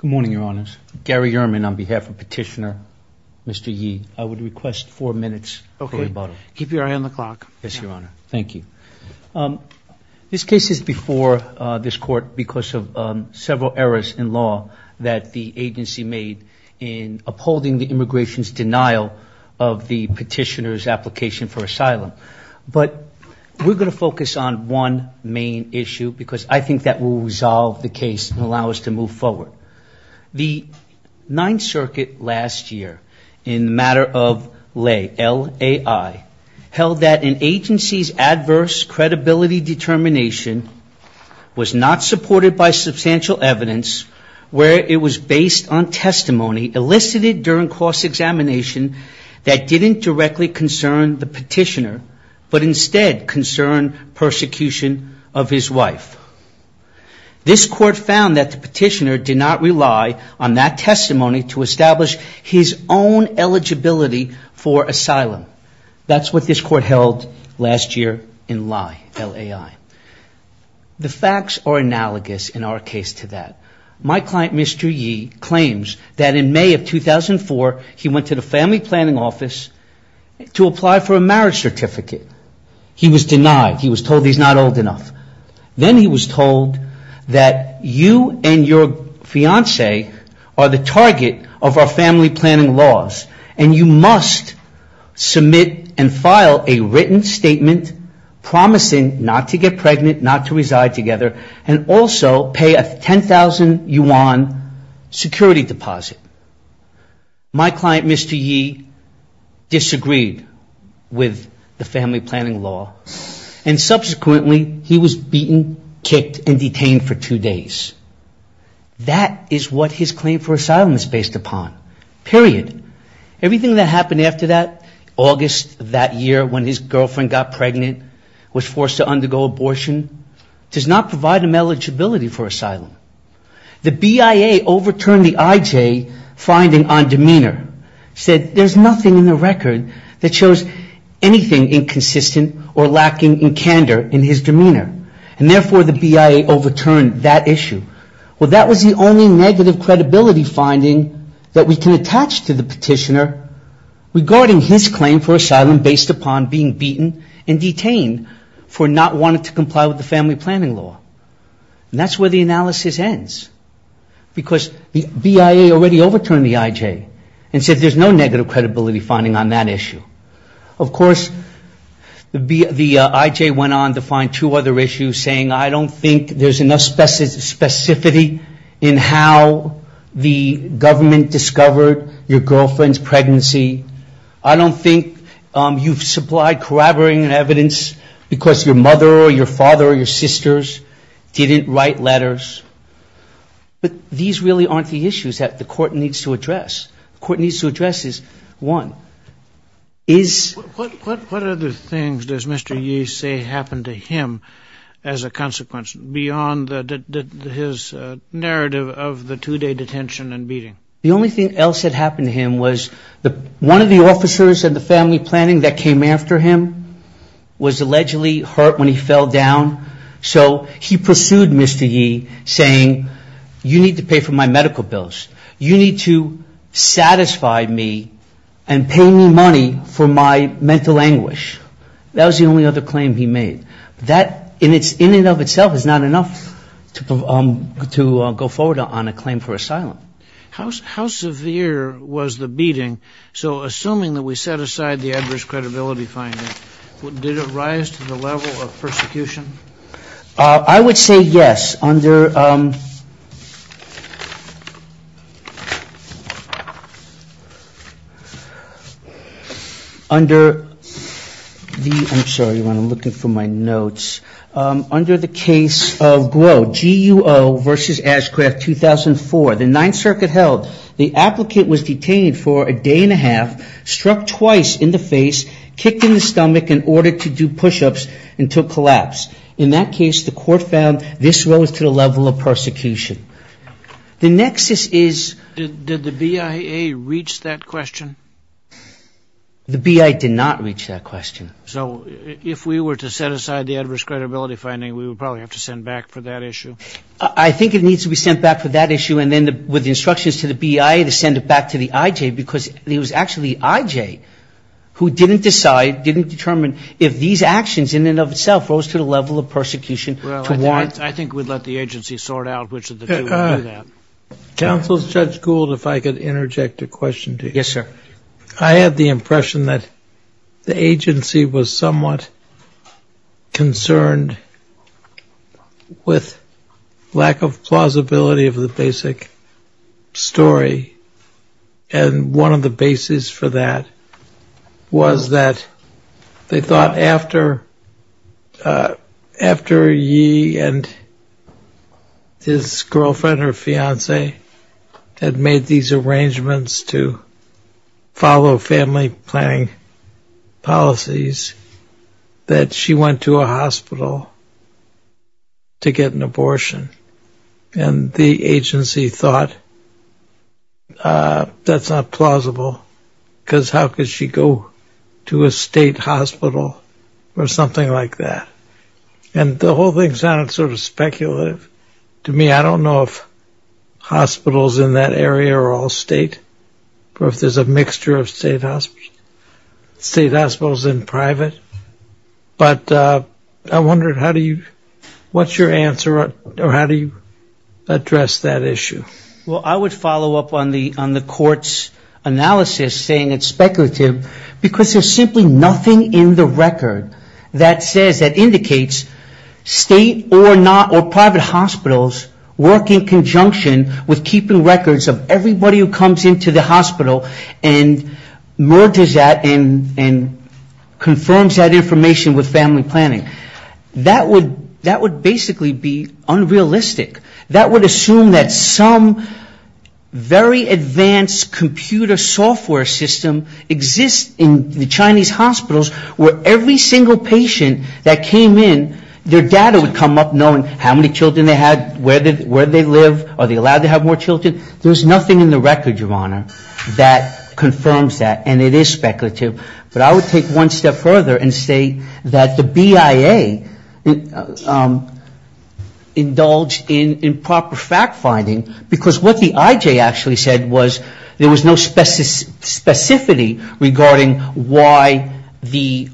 Good morning, Your Honors. Gary Ehrman on behalf of Petitioner. Mr. Ye, I would request four minutes. Okay. Keep your eye on the clock. Yes, Your Honor. Thank you. This case is before this court because of several errors in law that the agency made in upholding the immigration's denial of the petitioner's application for asylum. But we're going to focus on one main issue because I think that will resolve the case and allow us to move forward. The Ninth Circuit last year in the matter of lay, L-A-I, held that an agency's adverse credibility determination was not supported by substantial evidence where it was based on testimony elicited during cross-examination that didn't directly concern the petitioner but instead concerned persecution of his wife. This court found that the petitioner did not rely on that testimony to establish his own eligibility for asylum. That's what this court held last year in lie, L-A-I. The facts are analogous in our case to that. My client, Mr. Ye, claims that in May of 2004, he went to the family planning office to apply for a marriage certificate. He was denied. He was told he's not old enough. Then he was told that you and your fiance are the target of our family planning laws and you must submit and file a written statement promising not to get pregnant, not to reside together, and also pay a 10,000 yuan security deposit. My client, Mr. Ye, disagreed with the family planning law and subsequently he was beaten, kicked, and detained for two days. That is what his claim for asylum is based upon. Period. Everything that happened after that, August of that year when his girlfriend got pregnant, was forced to undergo abortion, does not provide him eligibility for asylum. The BIA overturned the IJ finding on demeanor, said there's nothing in the record that shows anything inconsistent or lacking in candor in his demeanor. And therefore, the BIA overturned that issue. Well, that was the only negative credibility finding that we can attach to the petitioner regarding his claim for asylum based upon being beaten and detained for not wanting to comply with the family planning law. And that's where the analysis ends because the BIA already overturned the IJ and said there's no negative credibility finding on that issue. Of course, the IJ went on to find two other issues saying I don't think there's enough specificity in how the government discovered your girlfriend's pregnancy. I don't think you've supplied corroborating evidence because your mother or your father or your sisters didn't write letters. But these really aren't the issues that the court needs to address. The court needs to address is, What other things does Mr. Yee say happened to him as a consequence beyond his narrative of the two-day detention and beating? The only thing else that happened to him was one of the officers in the family planning that came after him was allegedly hurt when he fell down. So he pursued Mr. Yee saying you need to pay for my medical bills. You need to satisfy me and pay me money for my mental anguish. That was the only other claim he made. That in and of itself is not enough to go forward on a claim for asylum. How severe was the beating? So assuming that we set aside the adverse credibility finding, did it rise to the level of persecution? I would say yes. Under... I'm sorry, Ron, I'm looking for my notes. Under the case of Guo, GUO versus Ashcraft 2004, the Ninth Circuit held the applicant was detained for a day and a half, struck twice in the face, kicked in the stomach in order to do push-ups until collapsed. In that case, the court found this rose to the level of persecution. The nexus is... Did the BIA reach that question? The BIA did not reach that question. So if we were to set aside the adverse credibility finding, we would probably have to send back for that issue? I think it needs to be sent back for that issue and then with instructions to the BIA to send it back to the IJ because it was actually IJ who didn't decide, didn't determine if these actions in and of itself rose to the level of persecution to warrant... Well, I think we'd let the agency sort out which of the two would do that. Counsel Judge Gould, if I could interject a question to you. Yes, sir. I had the impression that the agency was somewhat concerned with lack of plausibility of the basic story. And one of the bases for that was that they thought after Yi and his girlfriend or fiance had made these arrangements to follow family planning policies, that she went to a hospital to get an abortion. And the agency thought that's not plausible because how could she go to a state hospital or something like that? And the whole thing sounded sort of speculative to me. I don't know if hospitals in that area are all state or if there's a mixture of state hospitals and private. But I wondered how do you, what's your answer or how do you address that issue? Well, I would follow up on the court's analysis saying it's speculative because there's simply nothing in the record that says, that indicates state or not or private hospitals work in conjunction with keeping records of everybody who comes into the hospital and merges that and confirms it. Merges that information with family planning. That would basically be unrealistic. That would assume that some very advanced computer software system exists in the Chinese hospitals where every single patient that came in, their data would come up knowing how many children they had, where they live, are they allowed to have more children. There's nothing in the record, Your Honor, that confirms that and it is speculative. But I would take one step further and say that the BIA indulged in improper fact finding because what the IJ actually said was there was no specificity regarding why the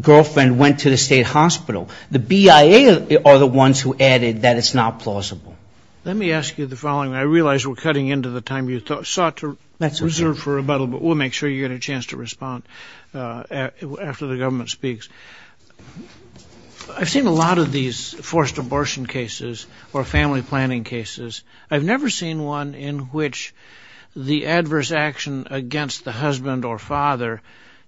girlfriend went to the state hospital. The BIA are the ones who added that it's not plausible. Let me ask you the following. I realize we're cutting into the time you sought to reserve for rebuttal, but we'll make sure you get a chance to respond after the government speaks. I've seen a lot of these forced abortion cases or family planning cases. I've never seen one in which the adverse action against the husband or father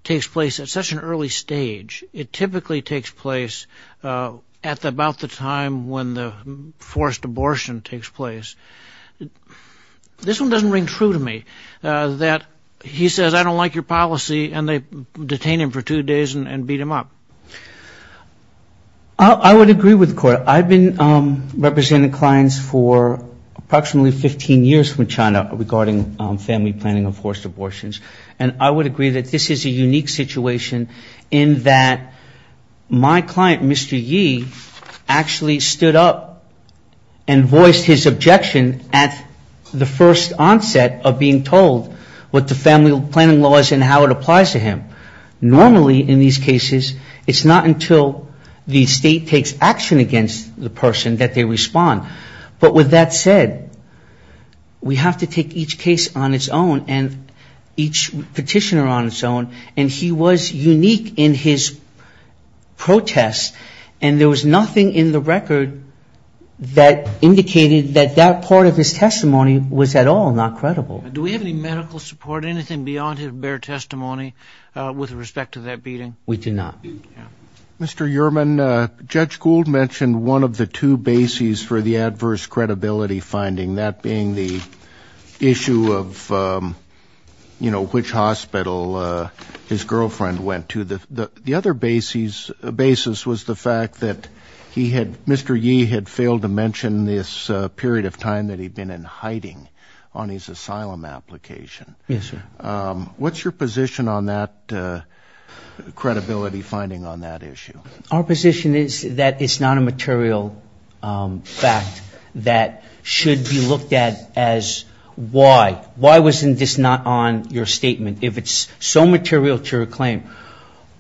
takes place at such an early stage. It typically takes place at about the time when the forced abortion takes place. This one doesn't ring true to me, that he says I don't like your policy and they detain him for two days and beat him up. I would agree with the Court. I've been representing clients for approximately 15 years from China regarding family planning and forced abortions. My client, Mr. Yi, actually stood up and voiced his objection at the first onset of being told what the family planning law is and how it applies to him. Normally in these cases it's not until the state takes action against the person that they respond. But with that said, we have to take each case on its own and each petitioner on its own. And he was unique in his protest, and there was nothing in the record that indicated that that part of his testimony was at all not credible. Do we have any medical support, anything beyond his bare testimony with respect to that beating? We do not. Mr. Yerman, Judge Gould mentioned one of the two bases for the adverse credibility finding, that being the issue of, you know, which hospital his girlfriend went to. The other basis was the fact that he had, Mr. Yi had failed to mention this period of time that he'd been in hiding on his asylum application. What's your position on that credibility finding on that issue? Our position is that it's not a material fact that should be looked at as why. Why wasn't this not on your statement, if it's so material to your claim?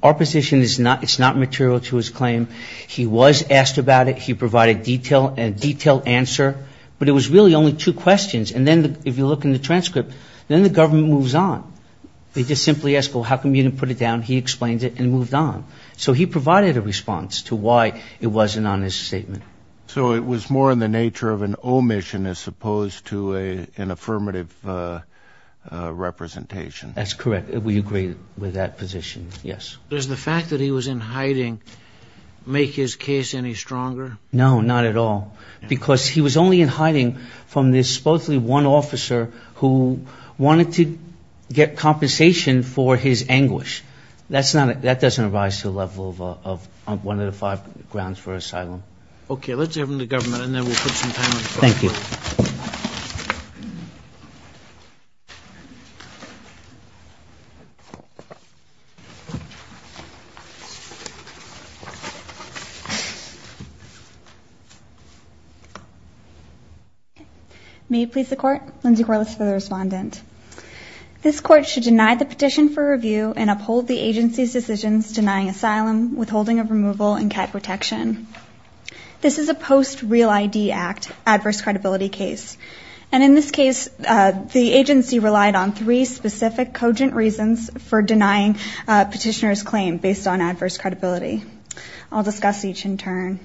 Our position is it's not material to his claim. He was asked about it. He provided a detailed answer. But it was really only two questions. And then if you look in the transcript, then the government moves on. They just simply ask, well, how come you didn't put it down? He explained it and moved on. So he provided a response to why it wasn't on his statement. So it was more in the nature of an omission as opposed to an affirmative representation. That's correct. We agree with that position. Yes. Does the fact that he was in hiding make his case any stronger? No, not at all, because he was only in hiding from this supposedly one officer who wanted to get compensation for his anguish. That doesn't arise to the level of one of the five grounds for asylum. Okay. Let's have him to government, and then we'll put some time on the phone. May it please the court. Lindsay Corliss for the respondent. This court should deny the petition for review and uphold the agency's decisions denying asylum, withholding of removal and cat protection. This is a post real ID act adverse credibility case. And in this case, the agency relied on three specific cogent reasons for denying petitioners claim based on adverse credibility. I'll discuss each in turn.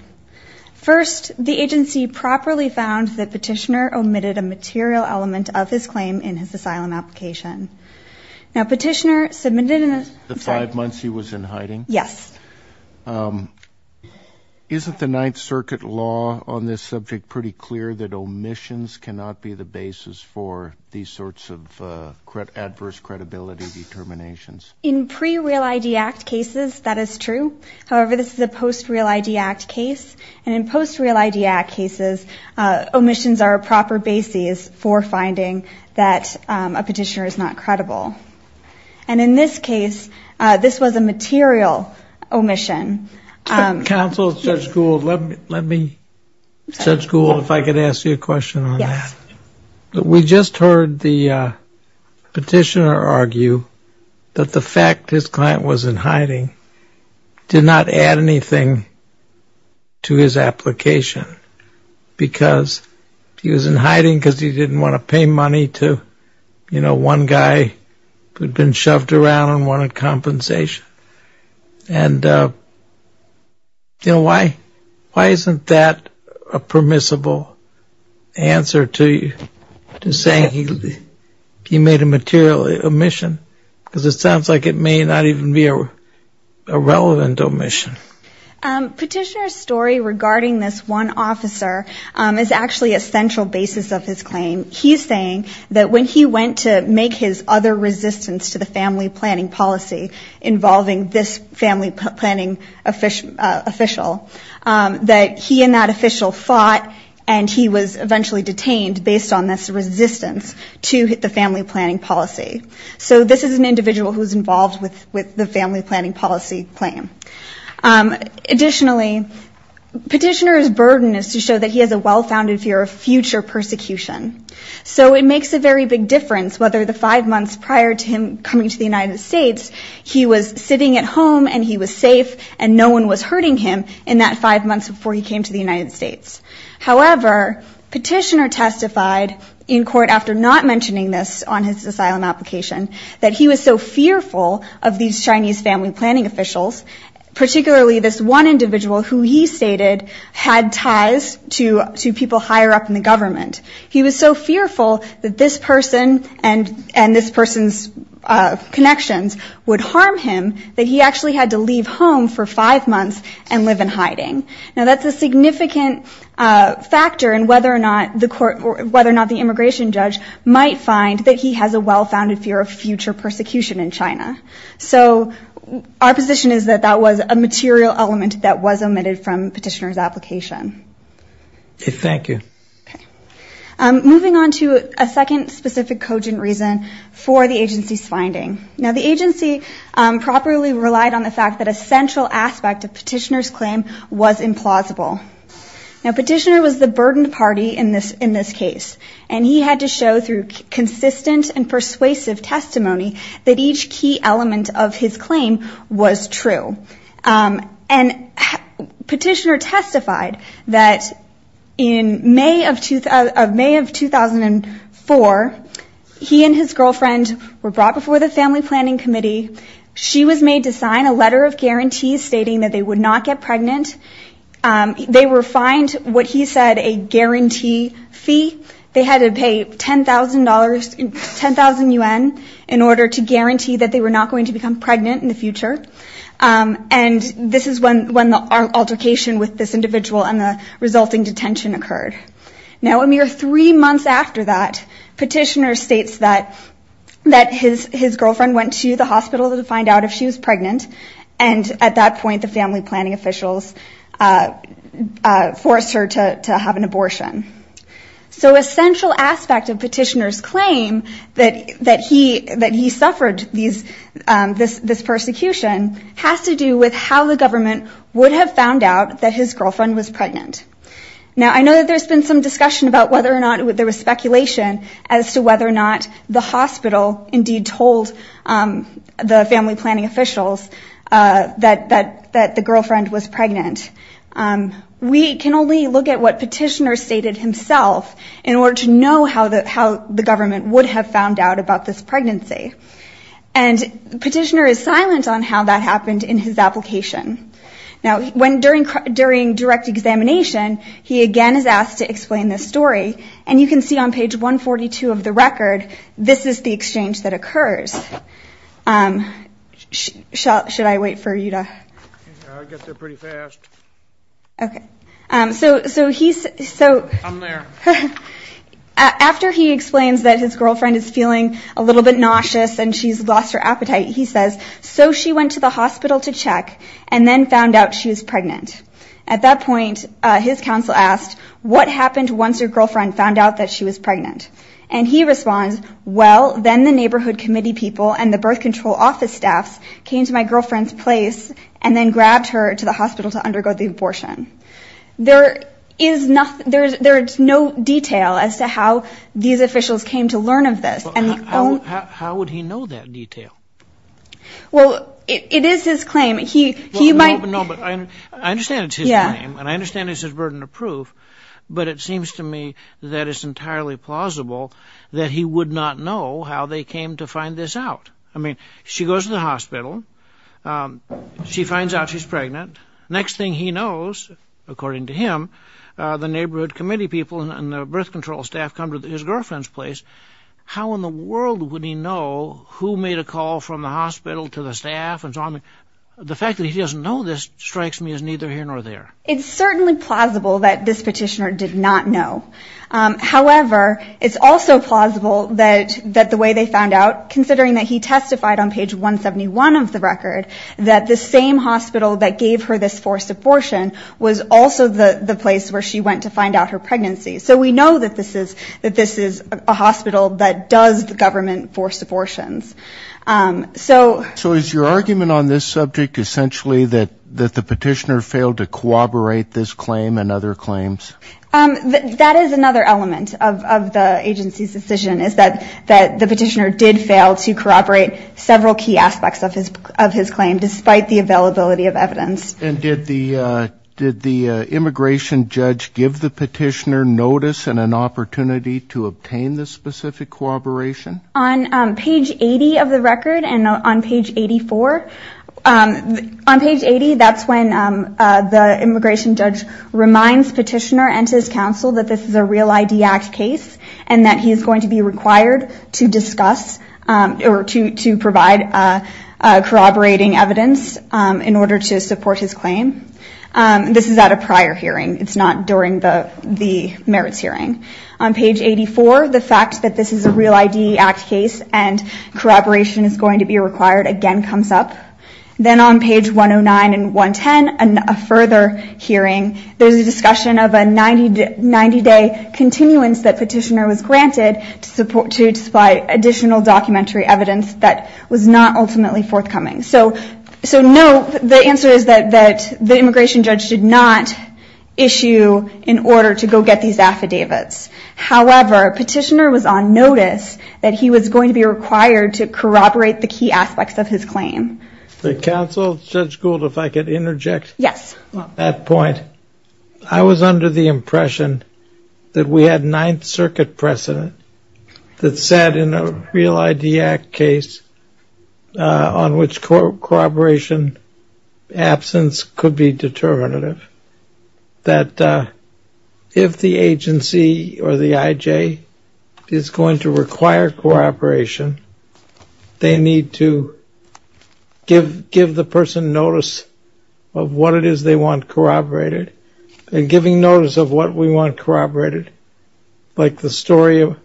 First, the agency properly found that petitioner omitted a material element of his claim in his asylum application. Now, petitioner submitted in the five months he was in hiding. Yes. Isn't the Ninth Circuit law on this subject pretty clear that omissions cannot be the basis for these sorts of adverse credibility determinations? In pre real ID act cases, that is true. However, this is a post real ID act case. And in post real ID act cases, omissions are a proper basis for finding that a petitioner is not credible. And in this case, this was a material omission. Counsel, Judge Gould, let me judge Gould if I could ask you a question on that. We just heard the petitioner argue that the fact his client was in hiding did not add anything to his application. Because he was in hiding because he didn't want to pay money to one guy who had been shoved around and wanted compensation. And why isn't that a permissible answer to your question? To say he made a material omission? Because it sounds like it may not even be a relevant omission. Petitioner's story regarding this one officer is actually a central basis of his claim. He's saying that when he went to make his other resistance to the family planning policy involving this family planning official, that he and that official fought and he was eventually detained based on this resistance to the family planning policy. So this is an individual who's involved with the family planning policy claim. Additionally, petitioner's burden is to show that he has a well-founded fear of future persecution. So it makes a very big difference whether the five months prior to him coming to the United States, he was sitting at home and he was safe and no one was hurting him, in that five months before he came to the United States. However, petitioner testified in court after not mentioning this on his asylum application, that he was so fearful of these Chinese family planning officials, particularly this one individual who he stated had ties to people higher up in the government. He was so fearful that this person and this person's connections would harm him, that he actually had to leave home for five months and live in hiding. Now that's a significant factor in whether or not the immigration judge might find that he has a well-founded fear of future persecution in China. So our position is that that was a material element that was omitted from petitioner's application. Okay, moving on to a second specific cogent reason for the agency's finding. Now the agency properly relied on the fact that a central aspect of petitioner's claim was implausible. Now petitioner was the burdened party in this case. And he had to show through consistent and persuasive testimony that each key element of his claim was true. And petitioner testified that in May of 2004, he and his girlfriend were brought before the family court. They were brought before the family planning committee. She was made to sign a letter of guarantee stating that they would not get pregnant. They were fined what he said a guarantee fee. They had to pay $10,000, 10,000 yuan in order to guarantee that they were not going to become pregnant in the future. And this is when the altercation with this individual and the resulting detention occurred. Now a mere three months after that, petitioner states that his girlfriend went to the hospital to find out if she was pregnant. And at that point the family planning officials forced her to have an abortion. So a central aspect of petitioner's claim that he suffered this persecution has to do with how the government would have found out that his girlfriend was pregnant. Now I know that there's been some discussion about whether or not, there was speculation as to whether or not the hospital indeed told the family planning officials that the girlfriend was pregnant. We can only look at what petitioner stated himself in order to know how the government would have found out about this pregnancy. And petitioner is silent on how that happened in his application. Now during direct examination he again is asked to explain this story. And you can see on page 142 of the record, this is the exchange that occurs. After he explains that his girlfriend is feeling a little bit nauseous and she's lost her appetite, he says, so she went to the hospital to check and then found out she was pregnant. At that point his counsel asked, what happened once your girlfriend found out that she was pregnant? And he responds, well then the neighborhood committee people and the birth control office staffs came to my girlfriend's place and then grabbed her to the hospital to undergo the abortion. There is no detail as to how these officials came to learn of this. How would he know that detail? I understand it's his claim and I understand it's his burden of proof, but it seems to me that it's entirely plausible that he would not know how they came to find this out. I mean, she goes to the hospital, she finds out she's pregnant. Next thing he knows, according to him, the neighborhood committee people and the birth control staff come to his girlfriend's place. How in the world would he know who made a call from the hospital to the staff? The fact that he doesn't know this strikes me as neither here nor there. It's certainly plausible that this petitioner did not know. However, it's also plausible that the way they found out, considering that he testified on page 171 of the record, that the same hospital that gave her this forced abortion was also the place where she went to find out her pregnancy. So we know that this is a hospital that does government forced abortions. So is your argument on this subject essentially that the petitioner failed to corroborate this claim and other claims? That is another element of the agency's decision, is that the petitioner did fail to corroborate several key aspects of his claim, despite the availability of evidence. And did the immigration judge give the petitioner notice and an opportunity to obtain the specific corroboration? On page 80 of the record and on page 84. On page 80, that's when the immigration judge reminds petitioner and his counsel that this is a Real ID Act case and that he is going to be required to discuss or to provide corroborating evidence in order to support his claim. This is at a prior hearing, it's not during the merits hearing. On page 84, the fact that this is a Real ID Act case and corroboration is going to be required again comes up. Then on page 109 and 110, a further hearing, there's a discussion of a 90-day continuance that petitioner was granted to supply additional documentary evidence that was not ultimately forthcoming. So no, the answer is that the immigration judge did not issue an order to go get these affidavits. However, petitioner was on notice that he was going to be required to corroborate the key aspects of his claim. The counsel, Judge Gould, if I could interject. Yes. At that point, I was under the impression that we had ninth circuit precedent that said in a Real ID Act case on which corroboration absence could be determinative. That if the agency or the IJ is going to require corroboration, they need to give the person notice of what it is they want to corroborate. And giving notice of what we want corroborated, like the story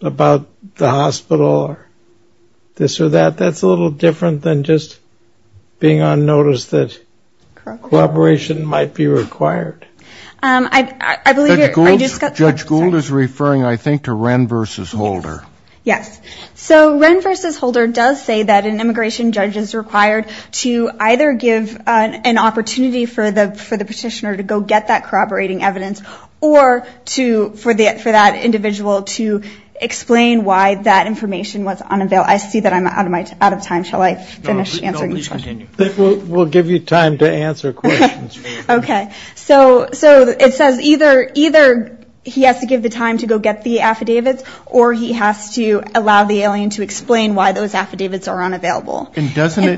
about the hospital or this or that, that's a little different than just being on notice that corroboration might be required. Judge Gould is referring, I think, to Wren v. Holder. Yes. So Wren v. Holder does say that an immigration judge is required to either give an opportunity for the petitioner to go get that corroborating evidence or for that individual to explain why that information was unavailable. I see that I'm out of time. Shall I finish answering this one? No, please continue. We'll give you time to answer questions. Okay. So it says either he has to give the time to go get the affidavits or he has to allow the alien to explain why those affidavits are unavailable. So in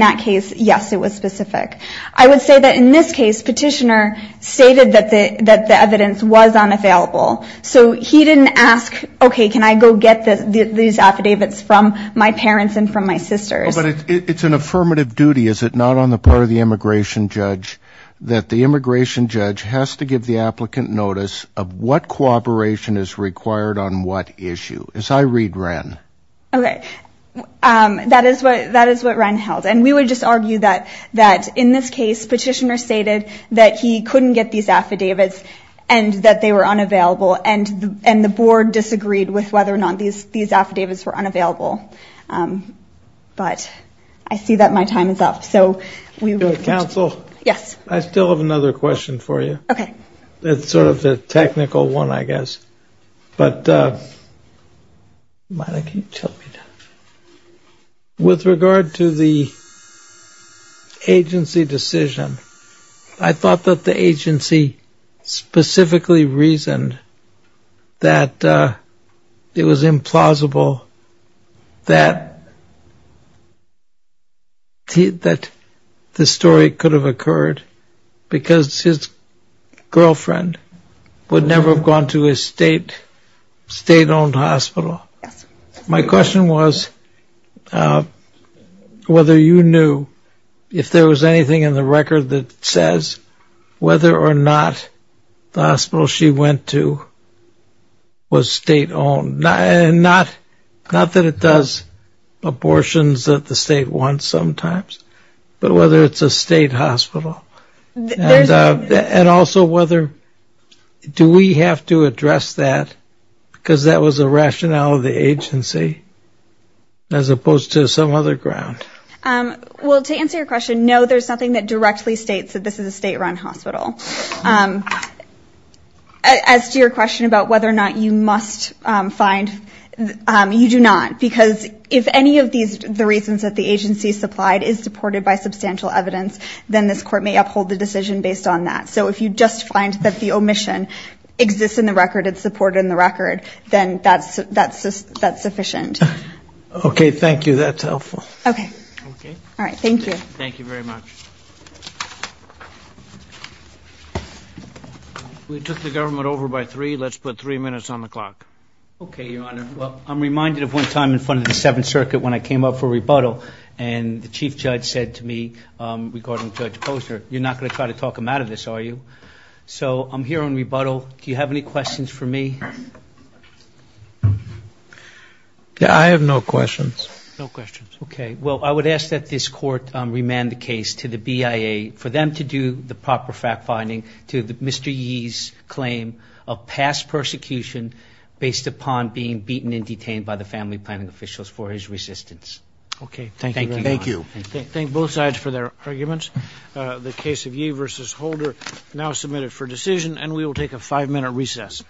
that case, yes, it was specific. I would say that in this case, petitioner stated that the evidence was unavailable. So he didn't ask, okay, can I go get these affidavits from my parents and from my sisters. But it's an affirmative duty, is it not, on the part of the immigration judge that the immigration judge has to give the applicant notice of what corroboration is required on what issue? That is what Ryan held. And we would just argue that in this case, petitioner stated that he couldn't get these affidavits and that they were unavailable. And the board disagreed with whether or not these affidavits were unavailable. But I see that my time is up. Counsel, I still have another question for you. That's sort of the technical one, I guess. But with regard to the agency decision, I thought that the agency specifically reasoned that it was implausible that the story could have occurred, because his claim was that it was a state-owned hospital. My question was whether you knew if there was anything in the record that says whether or not the hospital she went to was state-owned. And not that it does abortions that the state wants sometimes, but whether it's a state hospital. And also whether, do we have to address that? Because that was the rationale of the agency, as opposed to some other ground. Well, to answer your question, no, there's nothing that directly states that this is a state-run hospital. As to your question about whether or not you must find, you do not. Because if any of the reasons that the agency supplied is supported by substantial evidence, then this court may be able to find and may uphold the decision based on that. So if you just find that the omission exists in the record, it's supported in the record, then that's sufficient. Okay, thank you. That's helpful. Okay. I'm reminded of one time in front of the Seventh Circuit when I came up for rebuttal, and the chief judge said to me, regarding Judge Posner, you're not going to try to talk him out of this, are you? So I'm here on rebuttal. Do you have any questions for me? I have no questions. Okay, well, I would ask that this court remand the case to the BIA for them to do the proper fact-finding to Mr. Yee's claim of past persecution based upon being beaten and detained by the family planning officials for his resistance. Okay, thank you very much. Thank you.